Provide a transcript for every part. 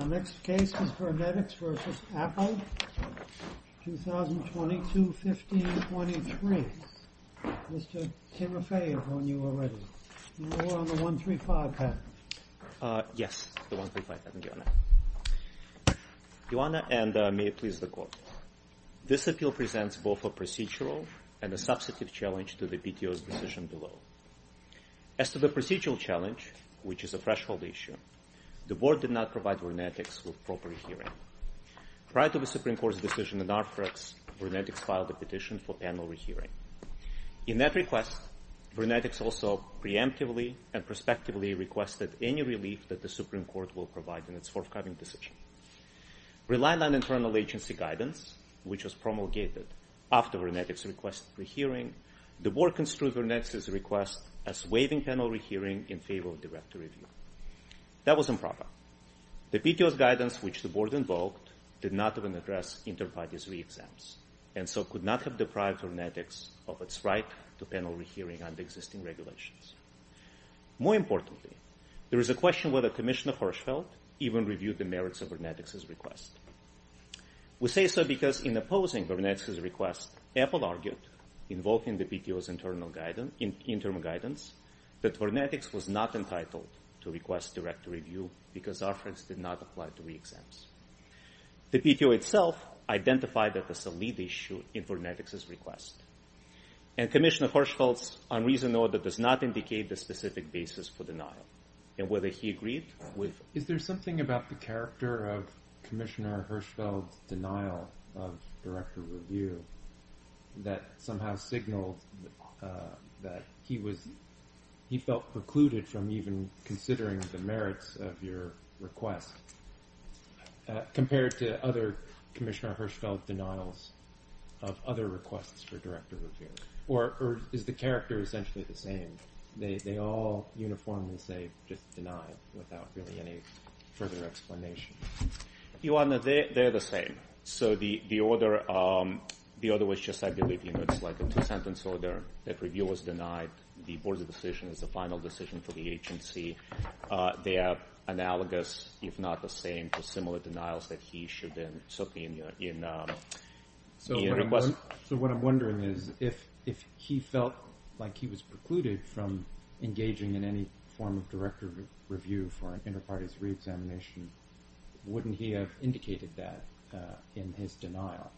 Our next case is VernetX v. Apple, 2022-15-23. Mr. Tirofei, I've known you already. You were on the 135 patent. Yes, the 135 patent, Joanna. Joanna, and may it please the Court. This appeal presents both a procedural and a substantive challenge to the PTO's decision below. As to the procedural challenge, which is a threshold issue, the Board did not provide VernetX with proper re-hearing. Prior to the Supreme Court's decision in RFREX, VernetX filed a petition for panel re-hearing. In that request, VernetX also preemptively and prospectively requested any relief that the Supreme Court will provide in its forthcoming decision. Relying on internal agency guidance, which was promulgated after VernetX requested re-hearing, the Board construed VernetX's request as waiving panel re-hearing in favor of direct review. That was improper. The PTO's guidance, which the Board invoked, did not even address inter-parties re-exams, and so could not have deprived VernetX of its right to panel re-hearing under existing regulations. More importantly, there is a question whether Commissioner Hirschfeld even reviewed the merits of VernetX's request. We say so because in opposing VernetX's request, Apple argued, invoking the PTO's internal guidance, that VernetX was not entitled to request direct review because RFREX did not apply to re-exams. The PTO itself identified that as a lead issue in VernetX's request, and Commissioner Hirschfeld's unreasonable order does not indicate the specific basis for denial, and whether he agreed with it. Is there something about the character of Commissioner Hirschfeld's denial of direct review that somehow signaled that he felt precluded from even considering the merits of your request compared to other Commissioner Hirschfeld denials of other requests for direct review? Or is the character essentially the same? They all uniformly say just denied without really any further explanation. Your Honor, they're the same. So the order was just like a two-sentence order. That review was denied. The board's decision is the final decision for the agency. They are analogous, if not the same, to similar denials that he should have been subpoenaed in requests. So what I'm wondering is if he felt like he was precluded from engaging in any form of direct review for an inter-parties re-examination, wouldn't he have indicated that in his denial?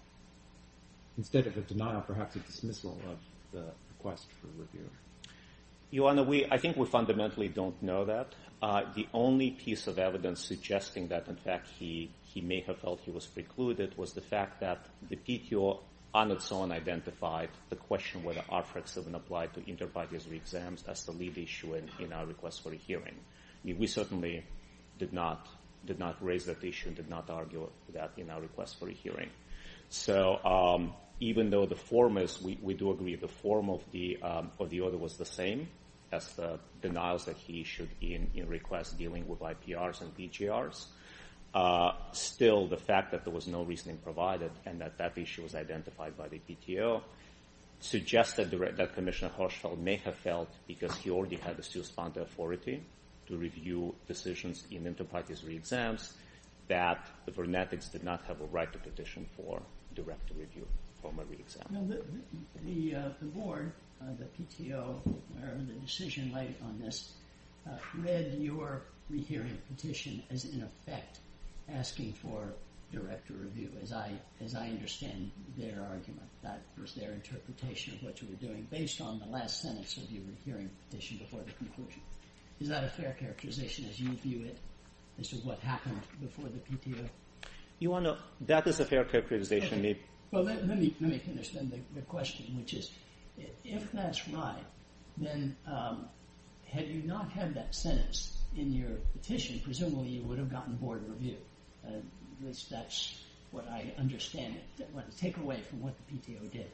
Instead of a denial, perhaps a dismissal of the request for review. Your Honor, I think we fundamentally don't know that. The only piece of evidence suggesting that, in fact, he may have felt he was precluded was the fact that the PTO on its own identified the question whether RFRAC 7 applied to inter-parties re-exams as the lead issue in our request for a hearing. We certainly did not raise that issue and did not argue that in our request for a hearing. So even though the form is, we do agree, the form of the order was the same as the denials that he issued in requests dealing with IPRs and PGRs, still the fact that there was no reasoning provided and that that issue was identified by the PTO suggests that Commissioner Hirschfeld may have felt, because he already had the steel-spun authority to review decisions in inter-parties re-exams, that the Burnettics did not have a right to petition for direct review from a re-exam. The board, the PTO, or the decision-maker on this, read your re-hearing petition as, in effect, asking for direct review, as I understand their argument. That was their interpretation of what you were doing, based on the last sentence of your re-hearing petition before the conclusion. Is that a fair characterization, as you view it, as to what happened before the PTO? That is a fair characterization. Well, let me finish, then, the question, which is, if that's right, then had you not had that sentence in your petition, presumably you would have gotten Board of Review. That's what I understand, the takeaway from what the PTO did.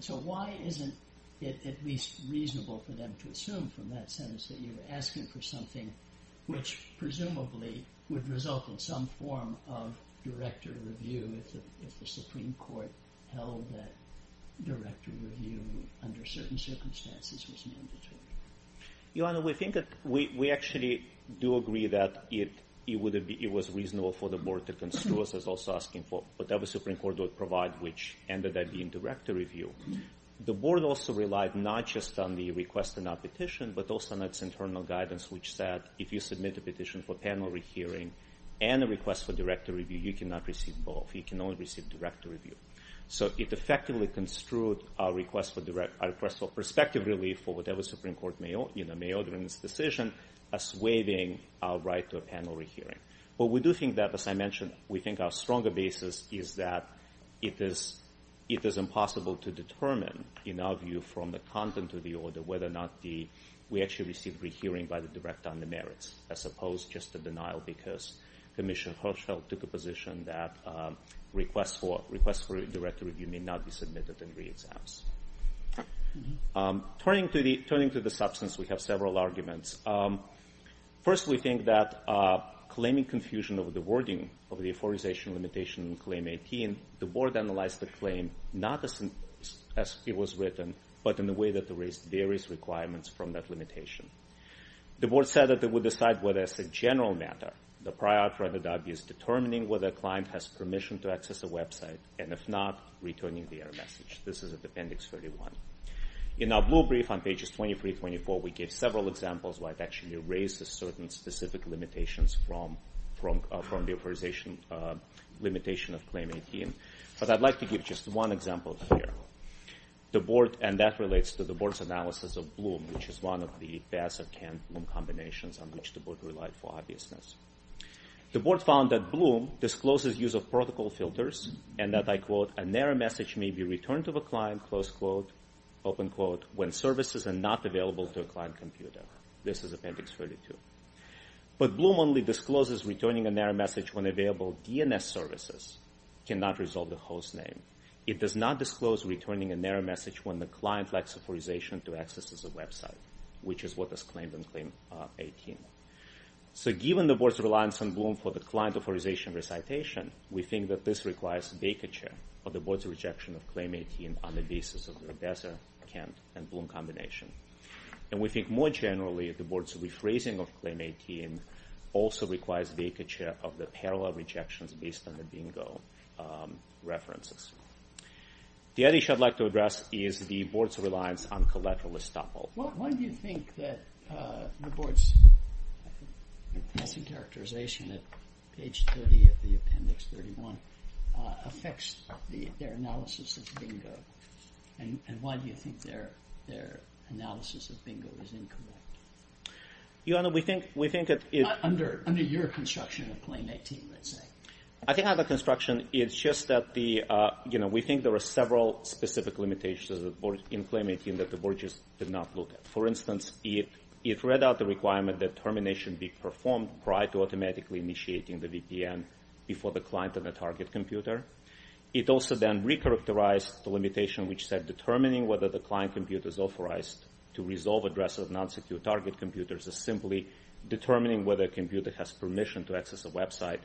So why isn't it at least reasonable for them to assume from that sentence that you were asking for something which presumably would result in some form of director review? If the Supreme Court held that director review, under certain circumstances, was mandatory. Your Honor, we actually do agree that it was reasonable for the board to construe us as also asking for whatever the Supreme Court would provide, which ended up being director review. The board also relied not just on the request to not petition, but also on its internal guidance, which said if you submit a petition for panel re-hearing and a request for director review, you cannot receive both, you can only receive director review. So it effectively construed our request for perspective relief for whatever Supreme Court may order in this decision, us waiving our right to a panel re-hearing. But we do think that, as I mentioned, we think our stronger basis is that it is impossible to determine, in our view, from the content of the order, whether or not we actually received re-hearing by the director on the merits, as opposed just to denial because Commissioner Hirschfeld took a position that requests for director review may not be submitted in re-exams. Turning to the substance, we have several arguments. First, we think that claiming confusion over the wording of the authorization limitation in Claim 18, the board analyzed the claim not as it was written, but in a way that erased various requirements from that limitation. The board said that it would decide whether, as a general matter, the prior authority is determining whether a client has permission to access a website, and if not, returning the error message. This is at Appendix 31. In our blue brief on pages 23-24, we give several examples where I've actually erased certain specific limitations from the authorization limitation of Claim 18. But I'd like to give just one example here. The board, and that relates to the board's analysis of Bloom, which is one of the VAS and CAN Bloom combinations on which the board relied for obviousness. The board found that Bloom discloses use of protocol filters and that, I quote, a narrow message may be returned to a client, close quote, open quote, when services are not available to a client computer. This is Appendix 32. But Bloom only discloses returning a narrow message when available DNS services cannot resolve the host name. It does not disclose returning a narrow message when the client lacks authorization to access a website, which is what was claimed in Claim 18. So given the board's reliance on Bloom for the client authorization recitation, we think that this requires vacature of the board's rejection of Claim 18 on the basis of the VAS and CAN and Bloom combination. And we think more generally the board's rephrasing of Claim 18 also requires vacature of the parallel rejections based on the bingo references. The other issue I'd like to address is the board's reliance on collateral estoppel. Why do you think that the board's missing characterization at page 30 of the Appendix 31 affects their analysis of bingo? And why do you think their analysis of bingo is incorrect? Your Honor, we think that it's... Under your construction of Claim 18, let's say. I think under construction it's just that the, you know, we think there are several specific limitations in Claim 18 that the board just did not look at. For instance, it read out the requirement that termination be performed prior to automatically initiating the VPN before the client and the target computer. It also then re-characterized the limitation which said determining whether the client computer is authorized to resolve addresses of non-secure target computers is simply determining whether a computer has permission to access a website.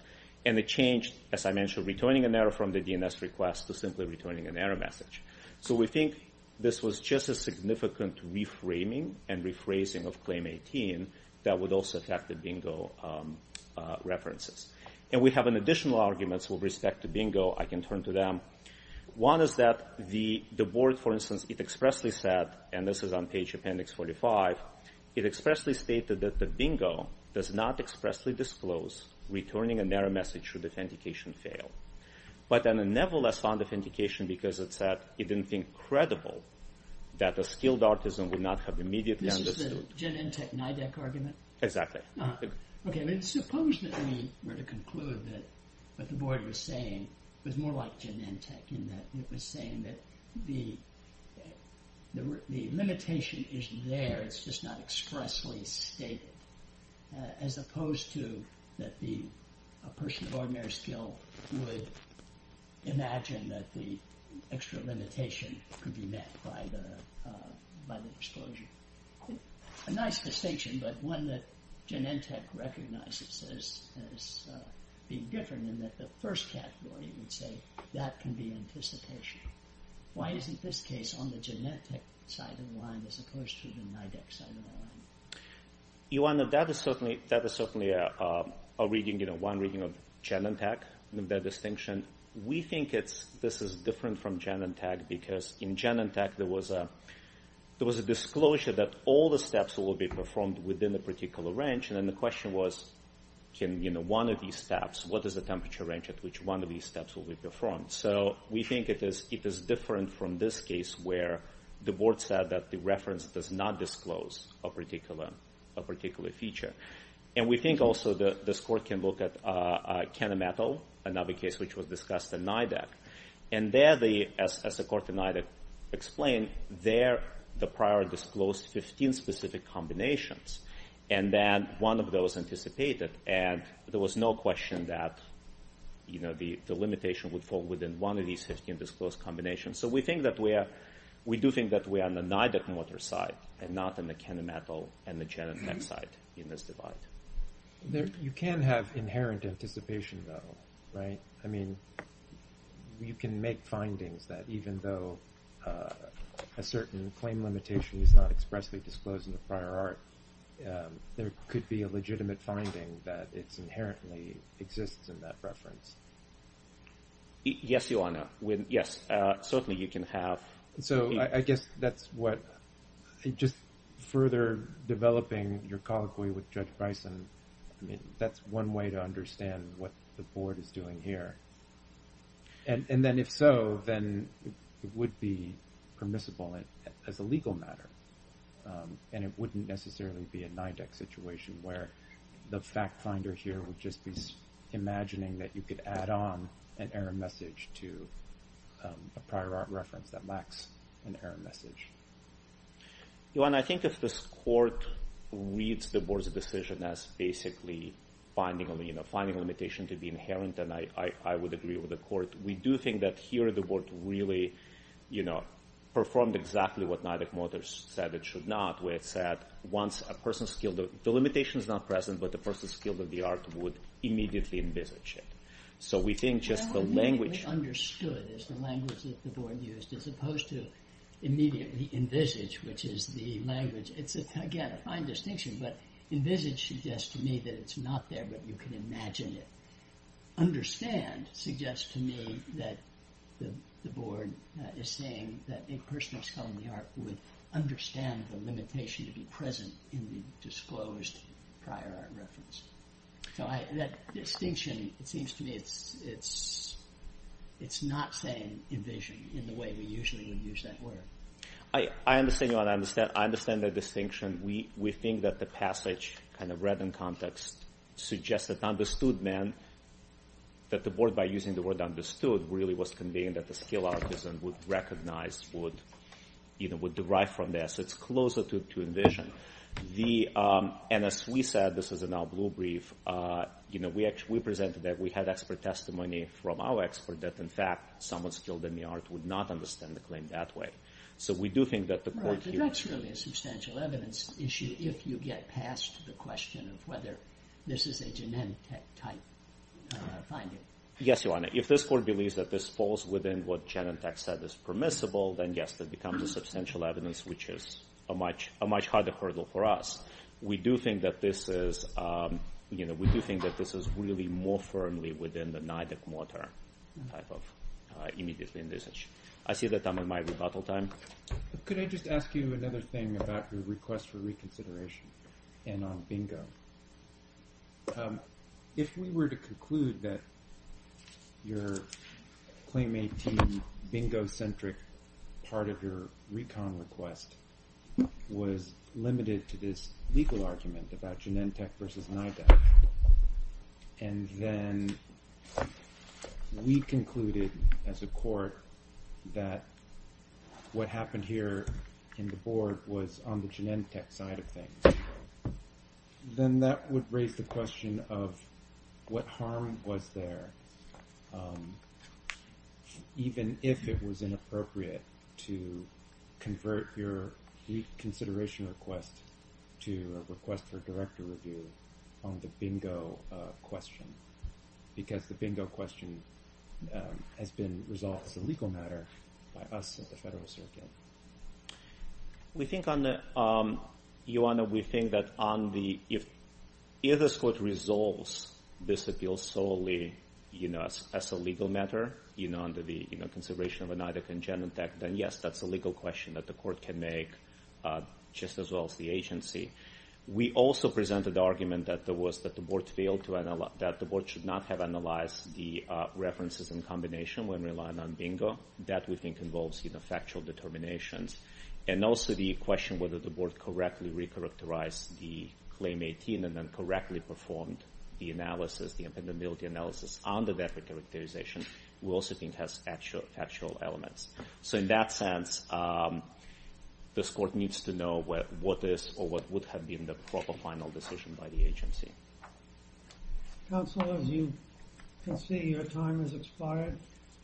And it changed, as I mentioned, returning an error from the DNS request to simply returning an error message. So we think this was just a significant reframing and rephrasing of Claim 18 that would also affect the bingo references. And we have additional arguments with respect to bingo I can turn to them. One is that the board, for instance, it expressly said, and this is on page Appendix 45, it expressly stated that the bingo does not expressly disclose returning an error message should authentication fail. But then it nevertheless found authentication because it said it didn't think credible that a skilled artisan would not have immediately understood. This is the Genentech-NIDEC argument? Exactly. Okay, suppose that we were to conclude that what the board was saying was more like Genentech in that it was saying that the limitation is there, it's just not expressly stated, as opposed to that a person of ordinary skill would imagine that the extra limitation could be met by the disclosure. A nice distinction, but one that Genentech recognizes as being different in that the first category would say that can be anticipation. Why isn't this case on the Genentech side of the line as opposed to the NIDEC side of the line? That is certainly one reading of Genentech, their distinction. We think this is different from Genentech because in Genentech there was a disclosure that all the steps will be performed within a particular range, and then the question was can one of these steps, what is the temperature range at which one of these steps will be performed? So we think it is different from this case where the board said that the reference does not disclose a particular feature. And we think also that this court can look at Kenametal, another case which was discussed in NIDEC, and there, as the court in NIDEC explained, there the prior disclosed 15 specific combinations, and then one of those anticipated, and there was no question that the limitation would fall within one of these 15 disclosed combinations. So we do think that we are on the NIDEC motor side and not on the Kenametal and Genentech side in this divide. You can have inherent anticipation though, right? I mean you can make findings that even though a certain claim limitation is not expressly disclosed in the prior art, there could be a legitimate finding that it inherently exists in that reference. Yes, Your Honor. Yes, certainly you can have. So I guess that's what, just further developing your colloquy with Judge Bison, I mean that's one way to understand what the board is doing here. And then if so, then it would be permissible as a legal matter, and it wouldn't necessarily be a NIDEC situation where the fact finder here would just be imagining that you could add on an error message to a prior art reference that lacks an error message. Your Honor, I think if this court reads the board's decision as basically finding a limitation to be inherent, and I would agree with the court, we do think that here the board really performed exactly what NIDEC motor said it should not, where it said once a person's skill, the limitation is not present, but the person's skill of the art would immediately envisage it. So we think just the language... Well, it would be understood as the language that the board used as opposed to immediately envisage, which is the language. It's again a fine distinction, but envisage suggests to me that it's not there, but you can imagine it. Understand suggests to me that the board is saying that a person of skill in the art would understand the limitation to be present in the disclosed prior art reference. So that distinction, it seems to me it's not saying envision in the way we usually would use that word. I understand that distinction. We think that the passage kind of read in context suggests that understood meant that the board, by using the word understood, really was conveying that the skill artisan would recognize, would derive from this. It's closer to envision. And as we said, this is in our blue brief, we presented that we had expert testimony from our expert that, in fact, someone skilled in the art would not understand the claim that way. So we do think that the court... Right, but that's really a substantial evidence issue if you get past the question of whether this is a Genentech type finding. Yes, Your Honor. If this court believes that this falls within what Genentech said is permissible, then yes, that becomes a substantial evidence, which is a much harder hurdle for us. We do think that this is, you know, we do think that this is really more firmly within the Neideck-Motter type of immediately in this issue. I see that I'm on my rebuttal time. Could I just ask you another thing about your request for reconsideration and on bingo? If we were to conclude that your claim 18 bingo-centric part of your recon request was limited to this legal argument about Genentech versus Neideck, and then we concluded as a court that what happened here in the board was on the Genentech side of things, then that would raise the question of what harm was there even if it was inappropriate to convert your reconsideration request to a request for director review on the bingo question, because the bingo question has been resolved as a legal matter by us at the Federal Circuit. We think that if this court resolves this appeal solely as a legal matter under the consideration of Neideck and Genentech, then yes, that's a legal question that the court can make just as well as the agency. We also presented the argument that the board should not have analyzed the references in combination when relying on bingo. That, we think, involves factual determinations. And also the question whether the board correctly re-characterized the claim 18 and then correctly performed the analysis, the impendability analysis under that characterization, we also think has factual elements. So in that sense, this court needs to know what is or what would have been the proper final decision by the agency. Counsel, as you can see, your time has expired.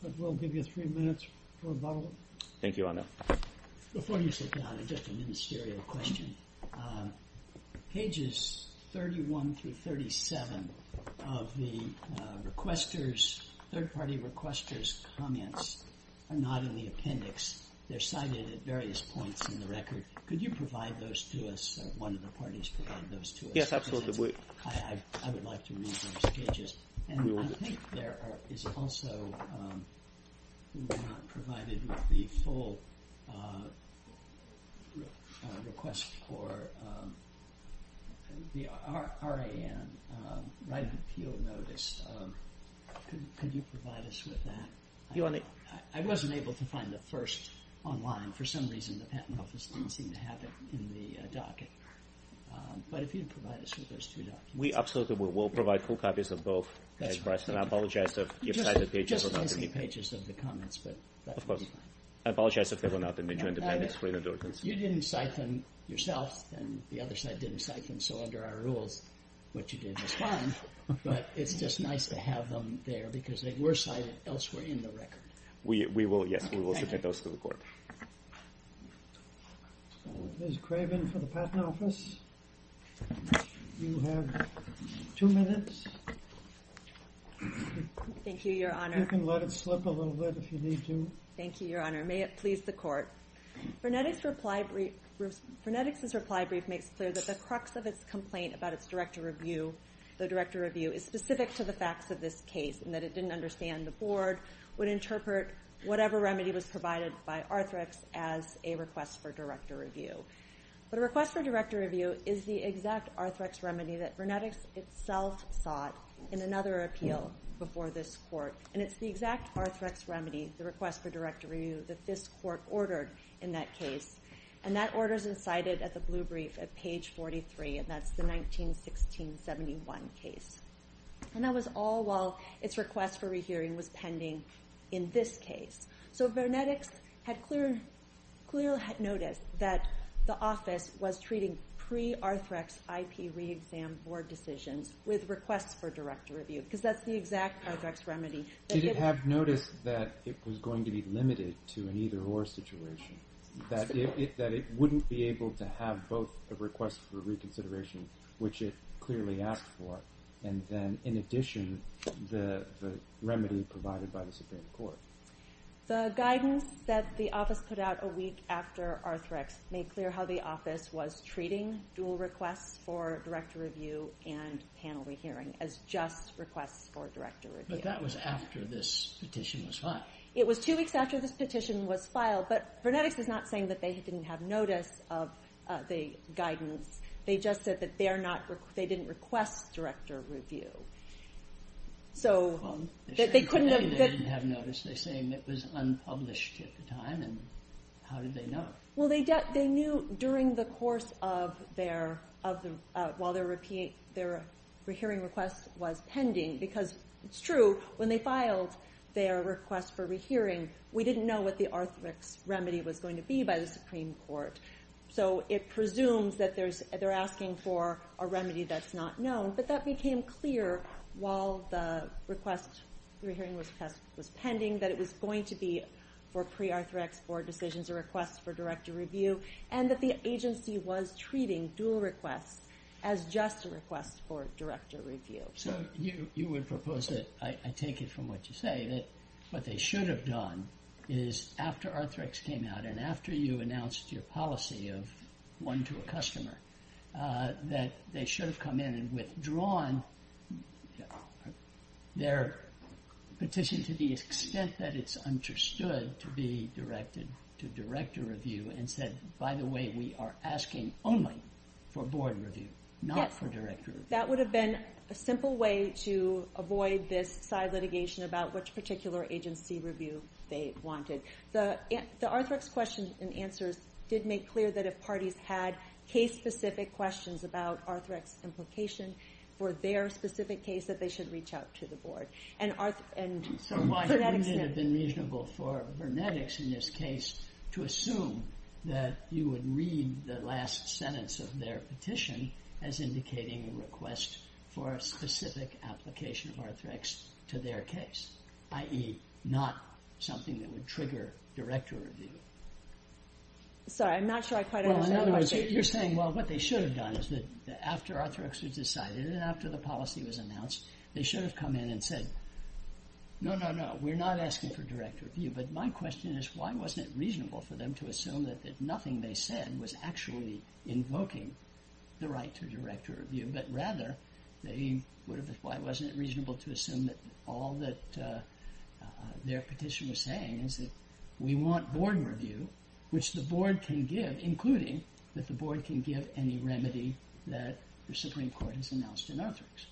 But we'll give you three minutes for a bubble. Thank you, Your Honor. Before you sit down, just a ministerial question. Pages 31 through 37 of the third-party requester's comments are not in the appendix. They're cited at various points in the record. Could you provide those to us, or one of the parties provide those to us? Yes, absolutely. I would like to read those pages. And I think there is also not provided the full request for the RAN, writing appeal notice. Could you provide us with that? I wasn't able to find the first online. For some reason, the Patent Office didn't seem to have it in the docket. But if you could provide us with those three documents. We absolutely will. We'll provide full copies of both. And I apologize if they were not in the appendix. You didn't cite them yourself, and the other side didn't cite them. So under our rules, what you did was fine. But it's just nice to have them there, because they were cited elsewhere in the record. Yes, we will submit those to the court. Ms. Craven for the Patent Office. You have two minutes. Thank you, Your Honor. You can let it slip a little bit if you need to. Thank you, Your Honor. May it please the court. Vernetix's reply brief makes clear that the crux of its complaint about its director review is specific to the facts of this case, and that it didn't understand the board would interpret whatever remedy was provided by Arthrex as a request for director review. But a request for director review is the exact Arthrex remedy that Vernetix itself sought in another appeal before this court. And it's the exact Arthrex remedy, the request for director review, that this court ordered in that case. And that order is incited at the blue brief at page 43, and that's the 191671 case. And that was all while its request for rehearing was pending in this case. So Vernetix clearly had noticed that the office was treating pre-Arthrex IP reexam board decisions with requests for director review, because that's the exact Arthrex remedy. Did it have notice that it was going to be limited to an either-or situation, that it wouldn't be able to have both a request for reconsideration, which it clearly asked for, and then in addition the remedy provided by the Supreme Court? The guidance that the office put out a week after Arthrex made clear how the office was treating dual requests for director review and panel re-hearing as just requests for director review. But that was after this petition was filed. It was two weeks after this petition was filed, but Vernetix is not saying that they didn't have notice of the guidance. They just said that they didn't request director review. Well, they certainly told me they didn't have notice. They say it was unpublished at the time, and how did they know? Well, they knew during the course of their, while their re-hearing request was pending, because it's true, when they filed their request for re-hearing, we didn't know what the Arthrex remedy was going to be by the Supreme Court. So it presumes that they're asking for a remedy that's not known, but that became clear while the re-hearing request was pending, that it was going to be for pre-Arthrex for decisions or requests for director review, and that the agency was treating dual requests as just requests for director review. So you would propose that, I take it from what you say, that what they should have done is after Arthrex came out, and after you announced your policy of one to a customer, that they should have come in and withdrawn their petition to the extent that it's understood to be directed to director review and said, by the way, we are asking only for board review, not for director review. Yes, that would have been a simple way to avoid this side litigation about which particular agency review they wanted. The Arthrex questions and answers did make clear that if parties had case-specific questions about Arthrex's implication for their specific case, that they should reach out to the board. So why wouldn't it have been reasonable for Vernetics in this case to assume that you would read the last sentence of their petition as indicating a request for a specific application of Arthrex to their case, i.e., not something that would trigger director review? Sorry, I'm not sure I quite understand the question. Well, in other words, you're saying, well, what they should have done is that after Arthrex was decided and after the policy was announced, they should have come in and said, no, no, no, we're not asking for director review, but my question is why wasn't it reasonable for them to assume that nothing they said was actually invoking the right to director review, but rather, why wasn't it reasonable to assume that all that their petition was saying is that we want board review, which the board can give, including that the board can give any remedy that the Supreme Court has announced in Arthrex?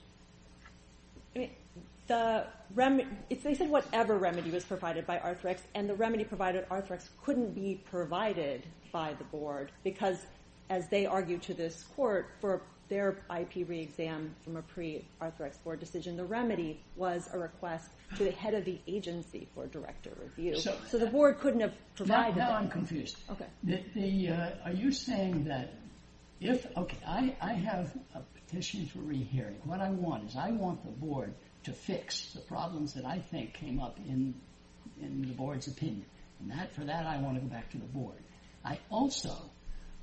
They said whatever remedy was provided by Arthrex, and the remedy provided by Arthrex couldn't be provided by the board because, as they argued to this court for their IP re-exam from a pre-Arthrex board decision, the remedy was a request to the head of the agency for director review. So the board couldn't have provided that. Now I'm confused. Okay. Are you saying that if, okay, I have a petition for re-hearing. What I want is I want the board to fix the problems that I think came up in the board's opinion. And for that, I want to go back to the board. I also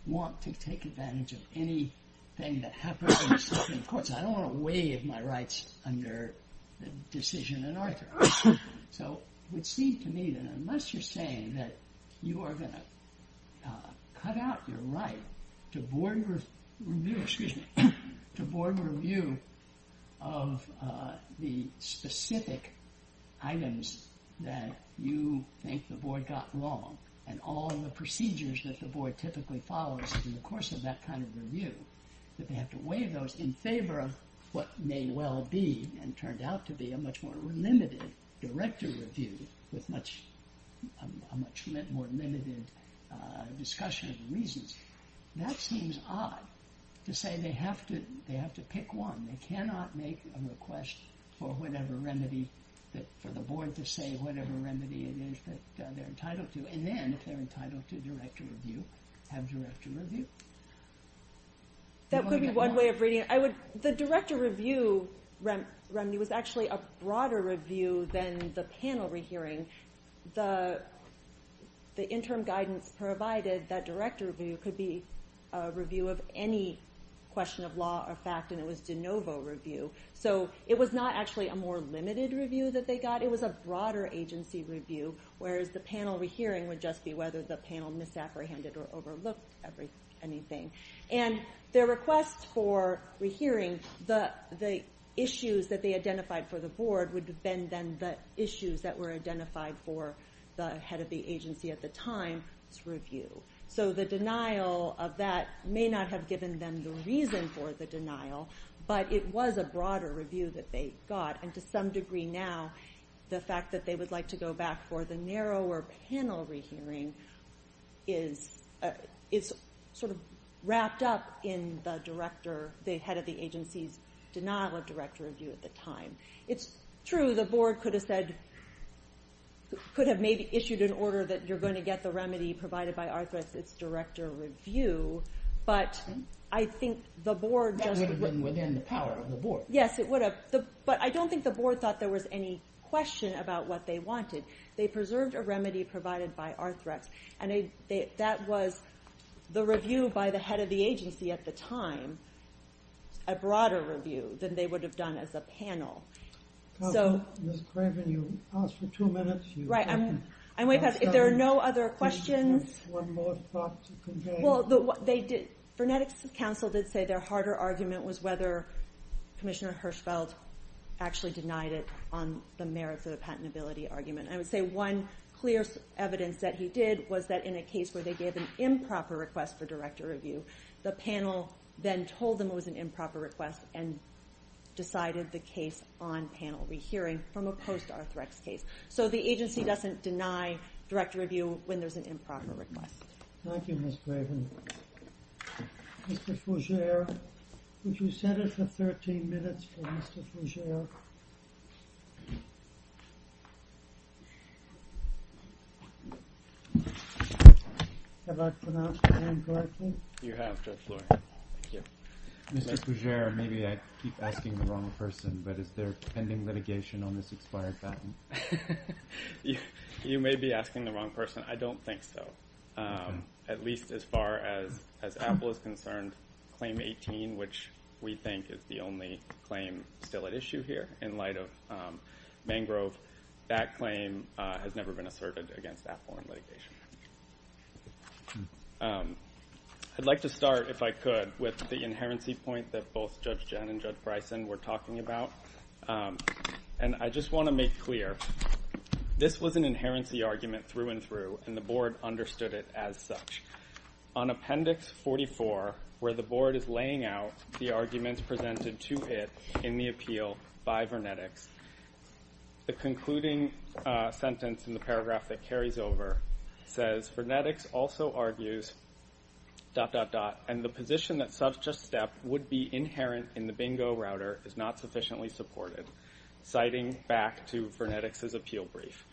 want to take advantage of anything that happens in the Supreme Court. Of course, I don't want to waive my rights under the decision in Arthrex. So it would seem to me that unless you're saying that you are going to cut out your right to board review, excuse me, to board review of the specific items that you think the board got wrong and all of the procedures that the board typically follows in the course of that kind of review, that they have to waive those in favor of what may well be and turned out to be a much more limited director review with a much more limited discussion of reasons. That seems odd to say they have to pick one. They cannot make a request for the board to say whatever remedy it is that they're entitled to. And then if they're entitled to director review, have director review. That could be one way of reading it. The director review remedy was actually a broader review than the panel rehearing. The interim guidance provided that director review could be a review of any question of law or fact, and it was de novo review. So it was not actually a more limited review that they got. It was a broader agency review, whereas the panel rehearing would just be whether the panel misapprehended or overlooked anything. And their request for rehearing the issues that they identified for the board would have been then the issues that were identified for the head of the agency at the time to review. So the denial of that may not have given them the reason for the denial, but it was a broader review that they got, and to some degree now the fact that they would like to go back for the narrower panel rehearing is sort of wrapped up in the director, the head of the agency's denial of director review at the time. It's true the board could have said, could have maybe issued an order that you're going to get the remedy provided by Arthur as its director review, but I think the board just... That would have been within the power of the board. Yes, it would have. But I don't think the board thought there was any question about what they wanted. They preserved a remedy provided by Arthrex, and that was the review by the head of the agency at the time, a broader review than they would have done as a panel. So... Ms. Craven, you asked for two minutes. Right. If there are no other questions... One more thought to convey. Vernetics Council did say their harder argument was whether Commissioner Hirschfeld actually denied it on the merits of the patentability argument. I would say one clear evidence that he did was that in a case where they gave an improper request for director review, the panel then told them it was an improper request and decided the case on panel rehearing from a post-Arthrex case. So the agency doesn't deny director review when there's an improper request. Thank you, Ms. Craven. Mr. Fougere, would you set it for 13 minutes for Mr. Fougere? Have I pronounced your name correctly? You have, Judge Lurie. Mr. Fougere, maybe I keep asking the wrong person, but is there pending litigation on this expired patent? You may be asking the wrong person. I don't think so, at least as far as Apple is concerned. Claim 18, which we think is the only claim still at issue here in light of Mangrove, that claim has never been asserted against Apple in litigation. I'd like to start, if I could, with the inherency point that both Judge Jen and Judge Bryson were talking about. I just want to make clear, this was an inherency argument through and through, and the Board understood it as such. On Appendix 44, where the Board is laying out the arguments presented to it in the appeal by Vernetics, the concluding sentence in the paragraph that carries over says, "...and the position that such a step would be inherent in the bingo router is not sufficiently supported," citing back to Vernetics' appeal brief.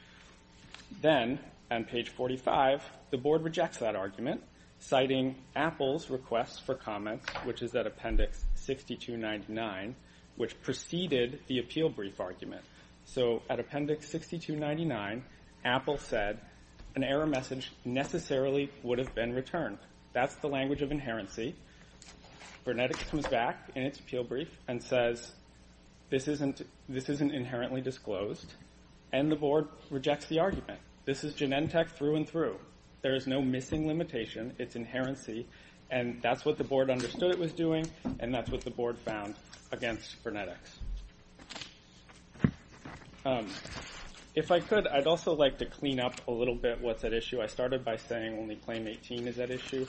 Then, on page 45, the Board rejects that argument, citing Apple's request for comments, which is at Appendix 6299, which preceded the appeal brief argument. So, at Appendix 6299, Apple said an error message necessarily would have been returned. That's the language of inherency. Vernetics comes back in its appeal brief and says, "...this isn't inherently disclosed," and the Board rejects the argument. This is Genentech through and through. There is no missing limitation. It's inherency, and that's what the Board understood it was doing, and that's what the Board found against Vernetics. If I could, I'd also like to clean up a little bit what's at issue. I started by saying only Claim 18 is at issue,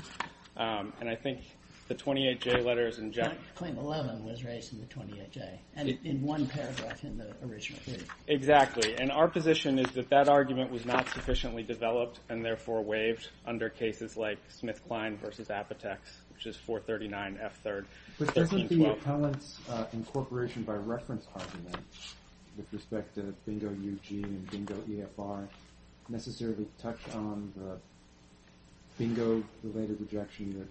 and I think the 28J letter is in Genentech. Claim 11 was raised in the 28J, and in one paragraph in the original brief. Exactly, and our position is that that argument was not sufficiently developed and therefore waived under cases like Smith-Klein v. Apotex, which is 439F3rd 1612. But doesn't the appellant's incorporation by reference argument with respect to BINGO-UG and BINGO-EFR necessarily touch on the BINGO-related rejection of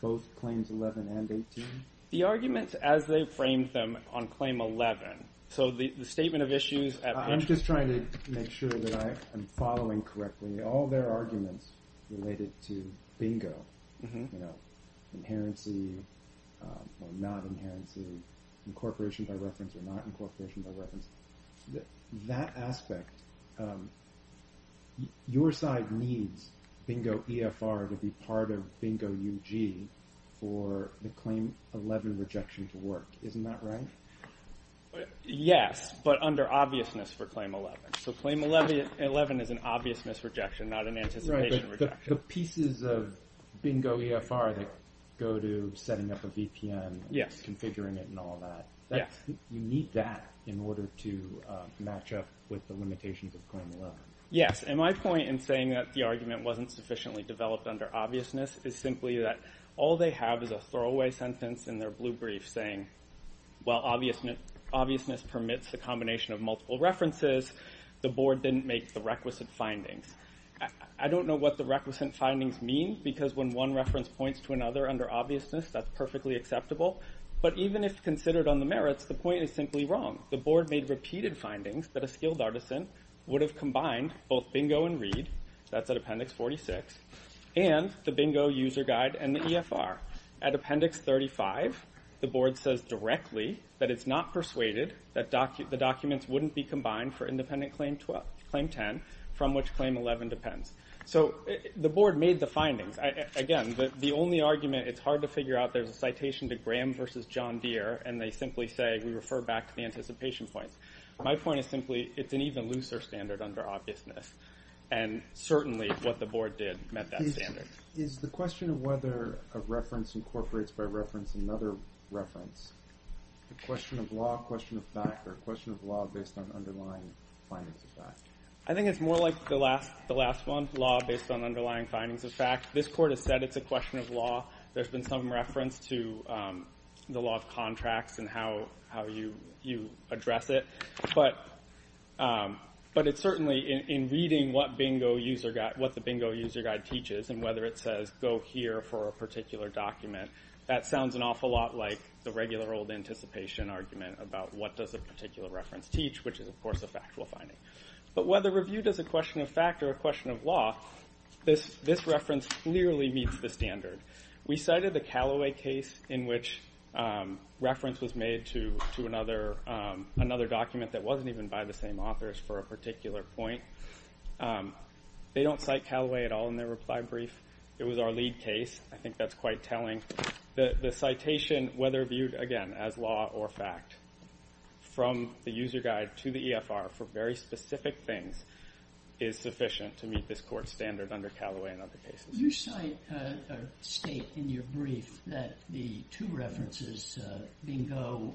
both Claims 11 and 18? The arguments as they framed them on Claim 11, so the statement of issues at page 12. I'm just trying to make sure that I am following correctly. All their arguments related to BINGO, inherency or not inherency, incorporation by reference or not incorporation by reference, that aspect, your side needs BINGO-EFR to be part of BINGO-UG for the Claim 11 rejection to work. Isn't that right? Yes, but under obviousness for Claim 11. So Claim 11 is an obviousness rejection, not an anticipation rejection. The pieces of BINGO-EFR that go to setting up a VPN, configuring it and all that, you need that in order to match up with the limitations of Claim 11. Yes, and my point in saying that the argument wasn't sufficiently developed under obviousness is simply that all they have is a throwaway sentence in their blue brief saying, while obviousness permits the combination of multiple references, the Board didn't make the requisite findings. I don't know what the requisite findings mean, because when one reference points to another under obviousness, that's perfectly acceptable. But even if considered on the merits, the point is simply wrong. The Board made repeated findings that a skilled artisan would have combined both BINGO and READ, that's at Appendix 46, and the BINGO User Guide and the EFR. At Appendix 35, the Board says directly that it's not persuaded that the documents wouldn't be combined for independent Claim 10, from which Claim 11 depends. So the Board made the findings. Again, the only argument, it's hard to figure out, there's a citation to Graham v. John Deere, and they simply say, we refer back to the anticipation points. My point is simply, it's an even looser standard under obviousness, and certainly what the Board did met that standard. Is the question of whether a reference incorporates by reference another reference, a question of law, a question of fact, or a question of law based on underlying findings of fact? I think it's more like the last one, law based on underlying findings of fact. This Court has said it's a question of law. There's been some reference to the law of contracts and how you address it. But it's certainly in reading what the BINGO User Guide teaches and whether it says go here for a particular document, that sounds an awful lot like the regular old anticipation argument about what does a particular reference teach, which is of course a factual finding. But whether review does a question of fact or a question of law, this reference clearly meets the standard. We cited the Callaway case in which reference was made to another document that wasn't even by the same authors for a particular point. They don't cite Callaway at all in their reply brief. It was our lead case. I think that's quite telling. The citation, whether viewed, again, as law or fact, from the User Guide to the EFR for very specific things is sufficient to meet this Court's standard under Callaway and other cases. You state in your brief that the two references, BINGO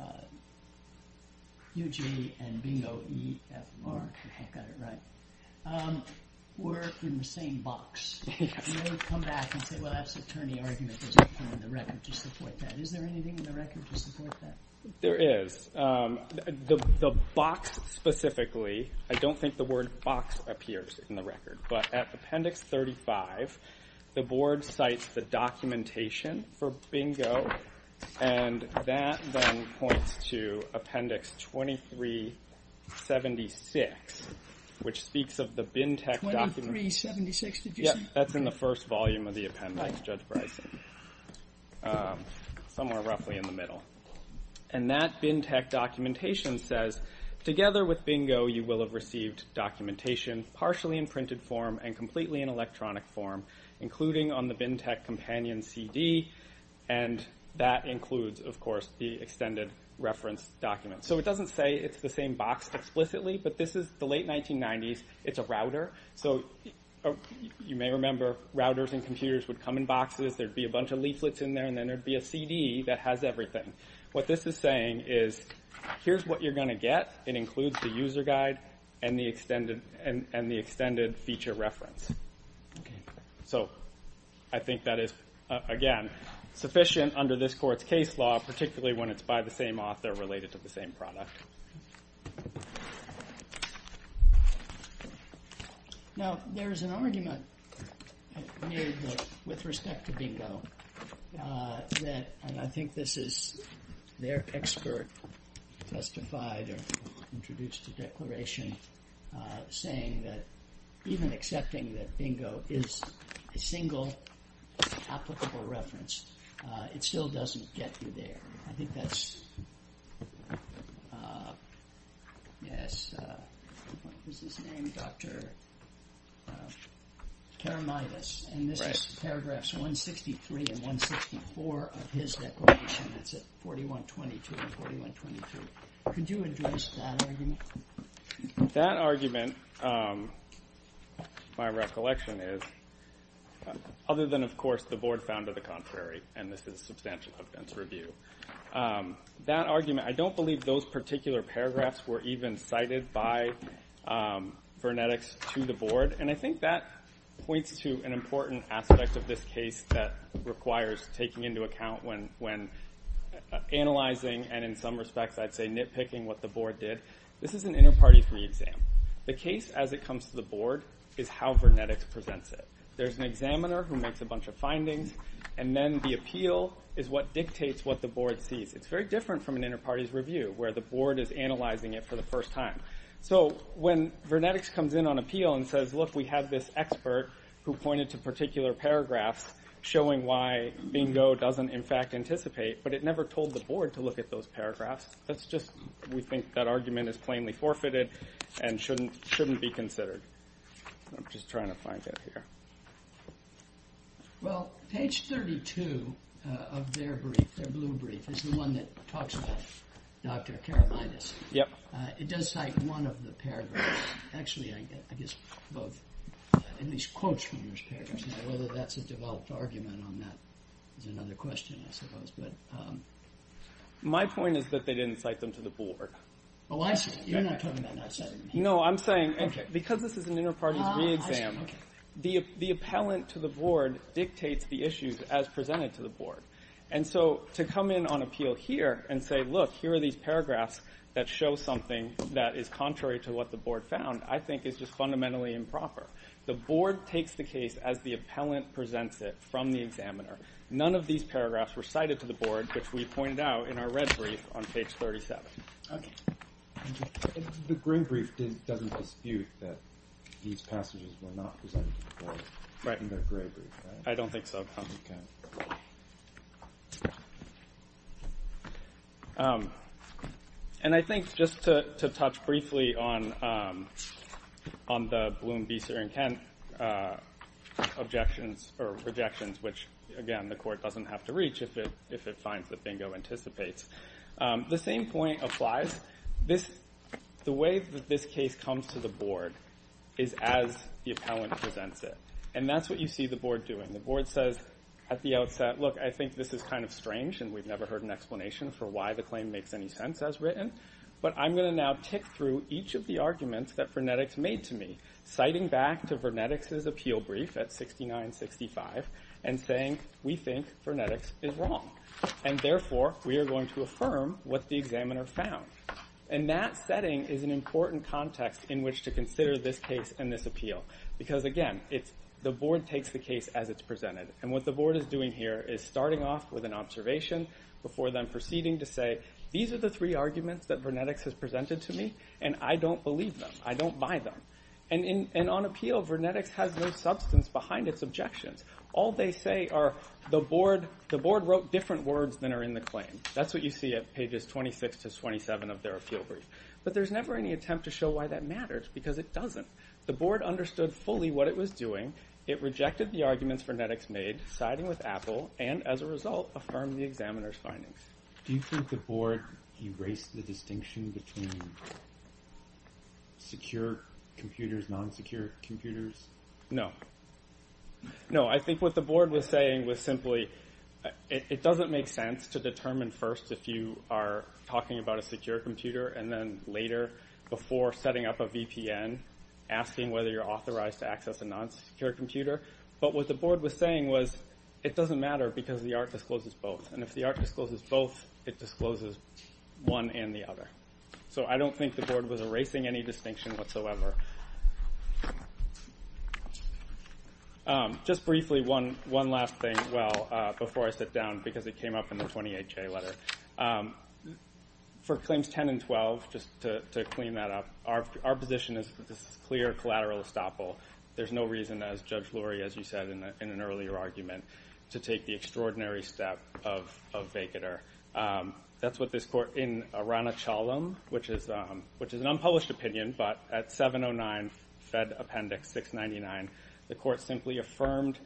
UG and BINGO EFR, if I've got it right, were in the same box. You don't come back and say, well, that's attorney argument. There's nothing in the record to support that. Is there anything in the record to support that? There is. The box specifically, I don't think the word box appears in the record, but at Appendix 35, the Board cites the documentation for BINGO, and that then points to Appendix 2376, which speaks of the BINTEC document. 2376, did you say? Yes, that's in the first volume of the appendix, Judge Bryson, somewhere roughly in the middle. And that BINTEC documentation says, Together with BINGO you will have received documentation partially in printed form and completely in electronic form, including on the BINTEC companion CD, and that includes, of course, the extended reference document. So it doesn't say it's the same box explicitly, but this is the late 1990s. It's a router. So you may remember routers and computers would come in boxes. There would be a bunch of leaflets in there, and then there would be a CD that has everything. What this is saying is here's what you're going to get. It includes the user guide and the extended feature reference. So I think that is, again, sufficient under this Court's case law, particularly when it's by the same author related to the same product. Now, there is an argument made with respect to BINGO, and I think this is their expert testified or introduced a declaration saying that even accepting that BINGO is a single applicable reference, it still doesn't get you there. I think that's Dr. Karamidas, and this is paragraphs 163 and 164 of his declaration. That's at 4122 and 4123. Could you address that argument? That argument, my recollection is, other than, of course, the Board found to the contrary, and this is substantial evidence review. That argument, I don't believe those particular paragraphs were even cited by Vernetics to the Board, and I think that points to an important aspect of this case that requires taking into account when analyzing, and in some respects I'd say nitpicking what the Board did. This is an inter-party re-exam. The case as it comes to the Board is how Vernetics presents it. There's an examiner who makes a bunch of findings, and then the appeal is what dictates what the Board sees. It's very different from an inter-party's review where the Board is analyzing it for the first time. So when Vernetics comes in on appeal and says, look, we have this expert who pointed to particular paragraphs showing why BINGO doesn't, in fact, anticipate, but it never told the Board to look at those paragraphs, that's just, we think that argument is plainly forfeited and shouldn't be considered. I'm just trying to find it here. Well, page 32 of their brief, their blue brief, is the one that talks about Dr. Karolides. It does cite one of the paragraphs. Actually, I guess both, at least quotes from those paragraphs. Now whether that's a developed argument on that is another question, I suppose. My point is that they didn't cite them to the Board. Oh, I see. You're not talking about not citing them. No, I'm saying because this is an inter-party's re-exam, the appellant to the Board dictates the issues as presented to the Board. And so to come in on appeal here and say, look, here are these paragraphs that show something that is contrary to what the Board found, I think is just fundamentally improper. The Board takes the case as the appellant presents it from the examiner. None of these paragraphs were cited to the Board, which we pointed out in our red brief on page 37. Okay. The green brief doesn't dispute that these passages were not presented to the Board in their gray brief. I don't think so. Okay. And I think just to touch briefly on the Bloom, Beeser, and Kent objections or rejections, which, again, the Court doesn't have to reach if it finds that Bingo anticipates, the same point applies. The way that this case comes to the Board is as the appellant presents it. And that's what you see the Board doing. The Board says at the outset, look, I think this is kind of strange and we've never heard an explanation for why the claim makes any sense as written, but I'm going to now tick through each of the arguments that Vernetics made to me, citing back to Vernetics' appeal brief at 69-65 and saying we think Vernetics is wrong. And therefore, we are going to affirm what the examiner found. And that setting is an important context in which to consider this case and this appeal because, again, the Board takes the case as it's presented. And what the Board is doing here is starting off with an observation before then proceeding to say, these are the three arguments that Vernetics has presented to me and I don't believe them. I don't buy them. And on appeal, Vernetics has no substance behind its objections. All they say are the Board wrote different words than are in the claim. That's what you see at pages 26-27 of their appeal brief. But there's never any attempt to show why that matters because it doesn't. The Board understood fully what it was doing. It rejected the arguments Vernetics made, siding with Apple, and, as a result, affirmed the examiner's findings. Do you think the Board erased the distinction between secure computers, non-secure computers? No. No, I think what the Board was saying was simply it doesn't make sense to determine first if you are talking about a secure computer and then later, before setting up a VPN, asking whether you're authorized to access a non-secure computer. But what the Board was saying was it doesn't matter because the art discloses both. And if the art discloses both, it discloses one and the other. So I don't think the Board was erasing any distinction whatsoever. Just briefly, one last thing. Before I sit down, because it came up in the 28-J letter. For Claims 10 and 12, just to clean that up, our position is that this is clear collateral estoppel. There's no reason, as Judge Lurie, as you said, in an earlier argument, to take the extraordinary step of vacater. That's what this Court, in Aranachalem, which is an unpublished opinion, but at 709 Fed Appendix 699, the Court simply affirmed,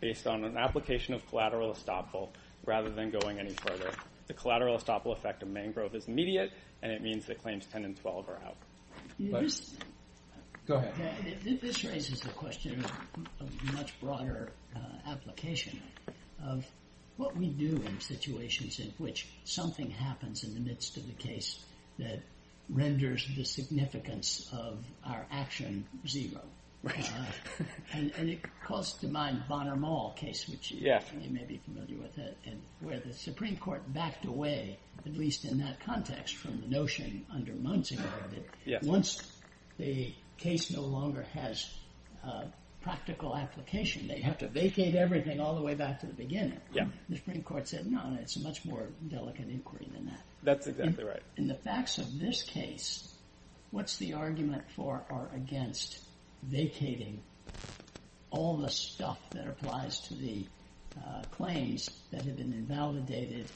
based on an application of collateral estoppel, rather than going any further, the collateral estoppel effect of mangrove is immediate and it means that Claims 10 and 12 are out. Go ahead. This raises the question of a much broader application of what we do in situations in which something happens in the midst of a case that renders the significance of our action zero. And it calls to mind the Bonner-Mall case, which you may be familiar with, where the Supreme Court backed away, at least in that context, from the notion under Munson, that once the case no longer has practical application, they have to vacate everything all the way back to the beginning. The Supreme Court said, no, it's a much more delicate inquiry than that. That's exactly right. In the facts of this case, what's the argument for or against vacating all the stuff that applies to the claims that have been invalidated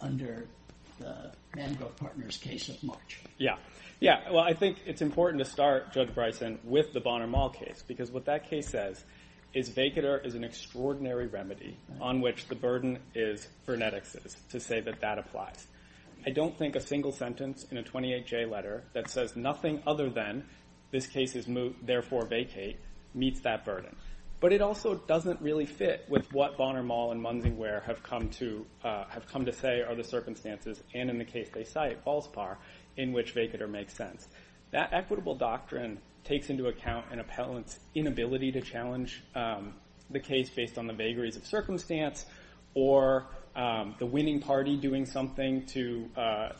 under the Mangrove Partners case of March? Yeah. Well, I think it's important to start, Judge Bryson, with the Bonner-Mall case, because what that case says is vacater is an extraordinary remedy on which the burden is frenetics, to say that that applies. I don't think a single sentence in a 28-J letter that says nothing other than this case is therefore vacate meets that burden. But it also doesn't really fit with what Bonner-Mall and Munson have come to say are the circumstances, and in the case they cite, false par, in which vacater makes sense. That equitable doctrine takes into account an appellant's inability to challenge the case based on the vagaries of circumstance or the winning party doing something to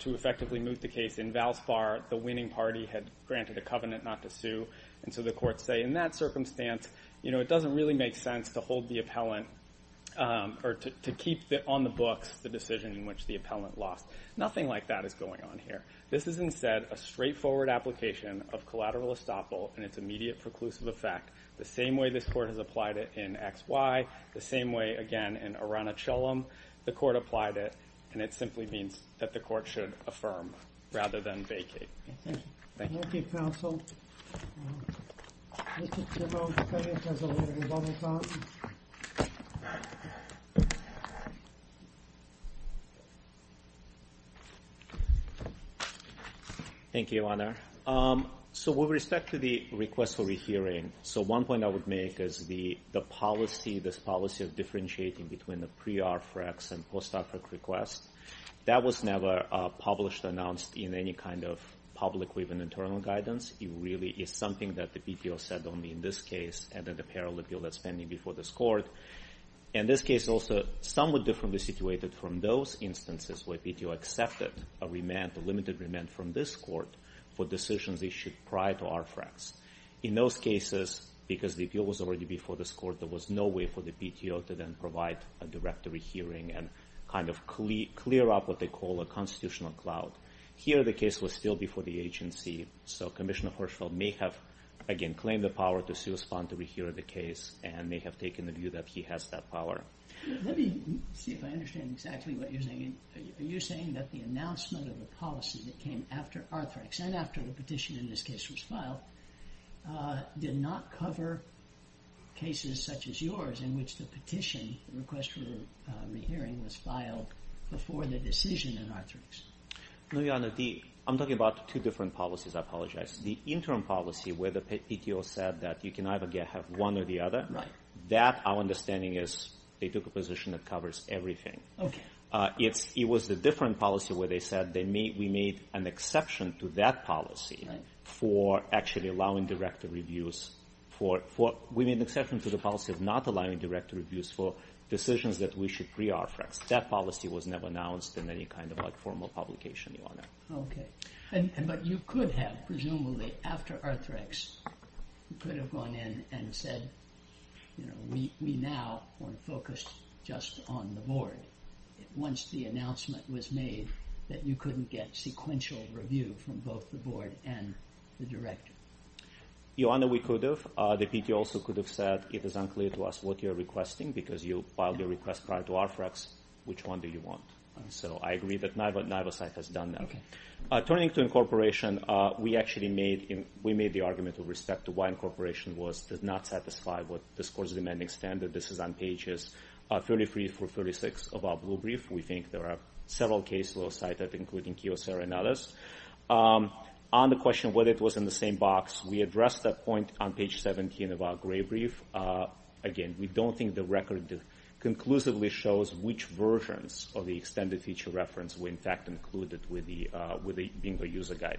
effectively move the case. In Valspar, the winning party had granted a covenant not to sue, and so the courts say, in that circumstance, it doesn't really make sense to hold the appellant or to keep on the books the decision in which the appellant lost. Nothing like that is going on here. This is instead a straightforward application of collateral estoppel and its immediate preclusive effect, the same way this court has applied it in X, Y, the same way, again, in Oranichelum, the court applied it, and it simply means that the court should affirm rather than vacate. Thank you. Thank you, counsel. Mr. Timmons, please, as the hearing is almost on. Thank you, Your Honor. So with respect to the request for rehearing, so one point I would make is the policy, this policy of differentiating between the pre-RFREX and post-RFREX request, that was never published, announced in any kind of public or even internal guidance. It really is something that the PTO said only in this case and in the parallel appeal that's pending before this court. In this case also, somewhat differently situated from those instances where PTO accepted a remand, a limited remand from this court for decisions issued prior to RFREX. In those cases, because the appeal was already before this court, there was no way for the PTO to then provide a direct rehearing and kind of clear up what they call a constitutional cloud. Here, the case was still before the agency, so Commissioner Hirschfeld may have, again, claimed the power to correspond to rehear the case and may have taken the view that he has that power. Let me see if I understand exactly what you're saying. Are you saying that the announcement of the policy that came after RFREX and after the petition in this case was filed did not cover cases such as yours in which the petition, the request for a rehearing, was filed before the decision in RFREX? No, Your Honor. I'm talking about two different policies. I apologize. The interim policy where the PTO said that you can either have one or the other, that our understanding is they took a position that covers everything. It was the different policy where they said that we made an exception to that policy for actually allowing direct reviews. We made an exception to the policy of not allowing direct reviews for decisions that we should pre-RFREX. That policy was never announced in any kind of formal publication, Your Honor. Okay. But you could have, presumably, after RFREX, you could have gone in and said, we now want to focus just on the board. Once the announcement was made that you couldn't get sequential review from both the board and the director. Your Honor, we could have. The PTO also could have said, it is unclear to us what you're requesting because you filed your request prior to RFREX. Which one do you want? So I agree that neither side has done that. Turning to incorporation, we actually made the argument with respect to why incorporation does not satisfy what the score is demanding standard. This is on pages 33 through 36 of our blue brief. We think there are several cases that were cited, including Kiyosara and others. On the question of whether it was in the same box, we addressed that point on page 17 of our gray brief. Again, we don't think the record conclusively shows which versions of the extended feature reference were, in fact, included with it being the user guide.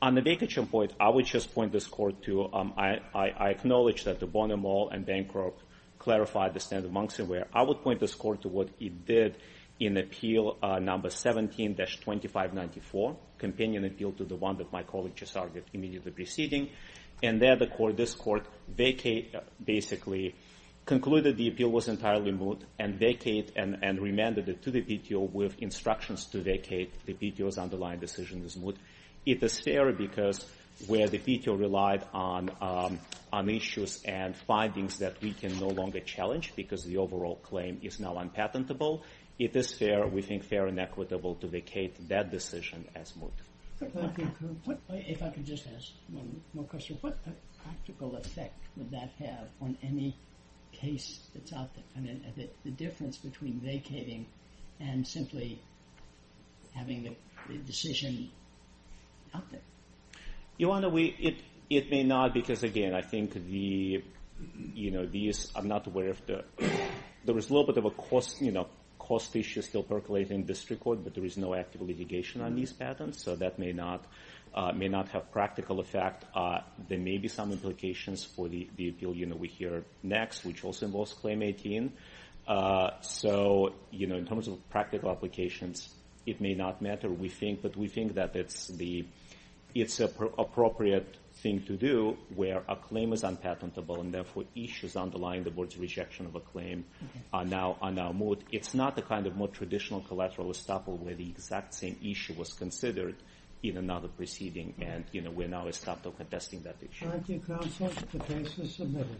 On the Baker-Chin point, I would just point this court to, I acknowledge that the Bonne and Moll and Bancroft clarified the standard amongst them, where I would point this court to what it did in appeal number 17-2594, companion appeal to the one that my colleague just argued immediately preceding. And there this court basically concluded the appeal was entirely moot, and vacated and remanded it to the PTO with instructions to vacate the PTO's underlying decision as moot. It is fair because where the PTO relied on issues and findings that we can no longer challenge because the overall claim is now unpatentable, it is fair, we think fair and equitable, to vacate that decision as moot. If I could just ask one more question. What practical effect would that have on any case that's out there? I mean, the difference between vacating and simply having the decision out there. Ioana, it may not, because again, I think these, I'm not aware of the, there is a little bit of a cost issue still percolating in this record, but there is no active litigation on these patents, so that may not have practical effect. There may be some implications for the appeal we hear next, which also involves Claim 18. So in terms of practical applications, it may not matter, we think, that it's an appropriate thing to do where a claim is unpatentable and therefore issues underlying the Board's rejection of a claim are now moot. It's not the kind of more traditional collateral estoppel where the exact same issue was considered in another proceeding, and we're now estoppel contesting that issue. Thank you, counsel. The case is submitted.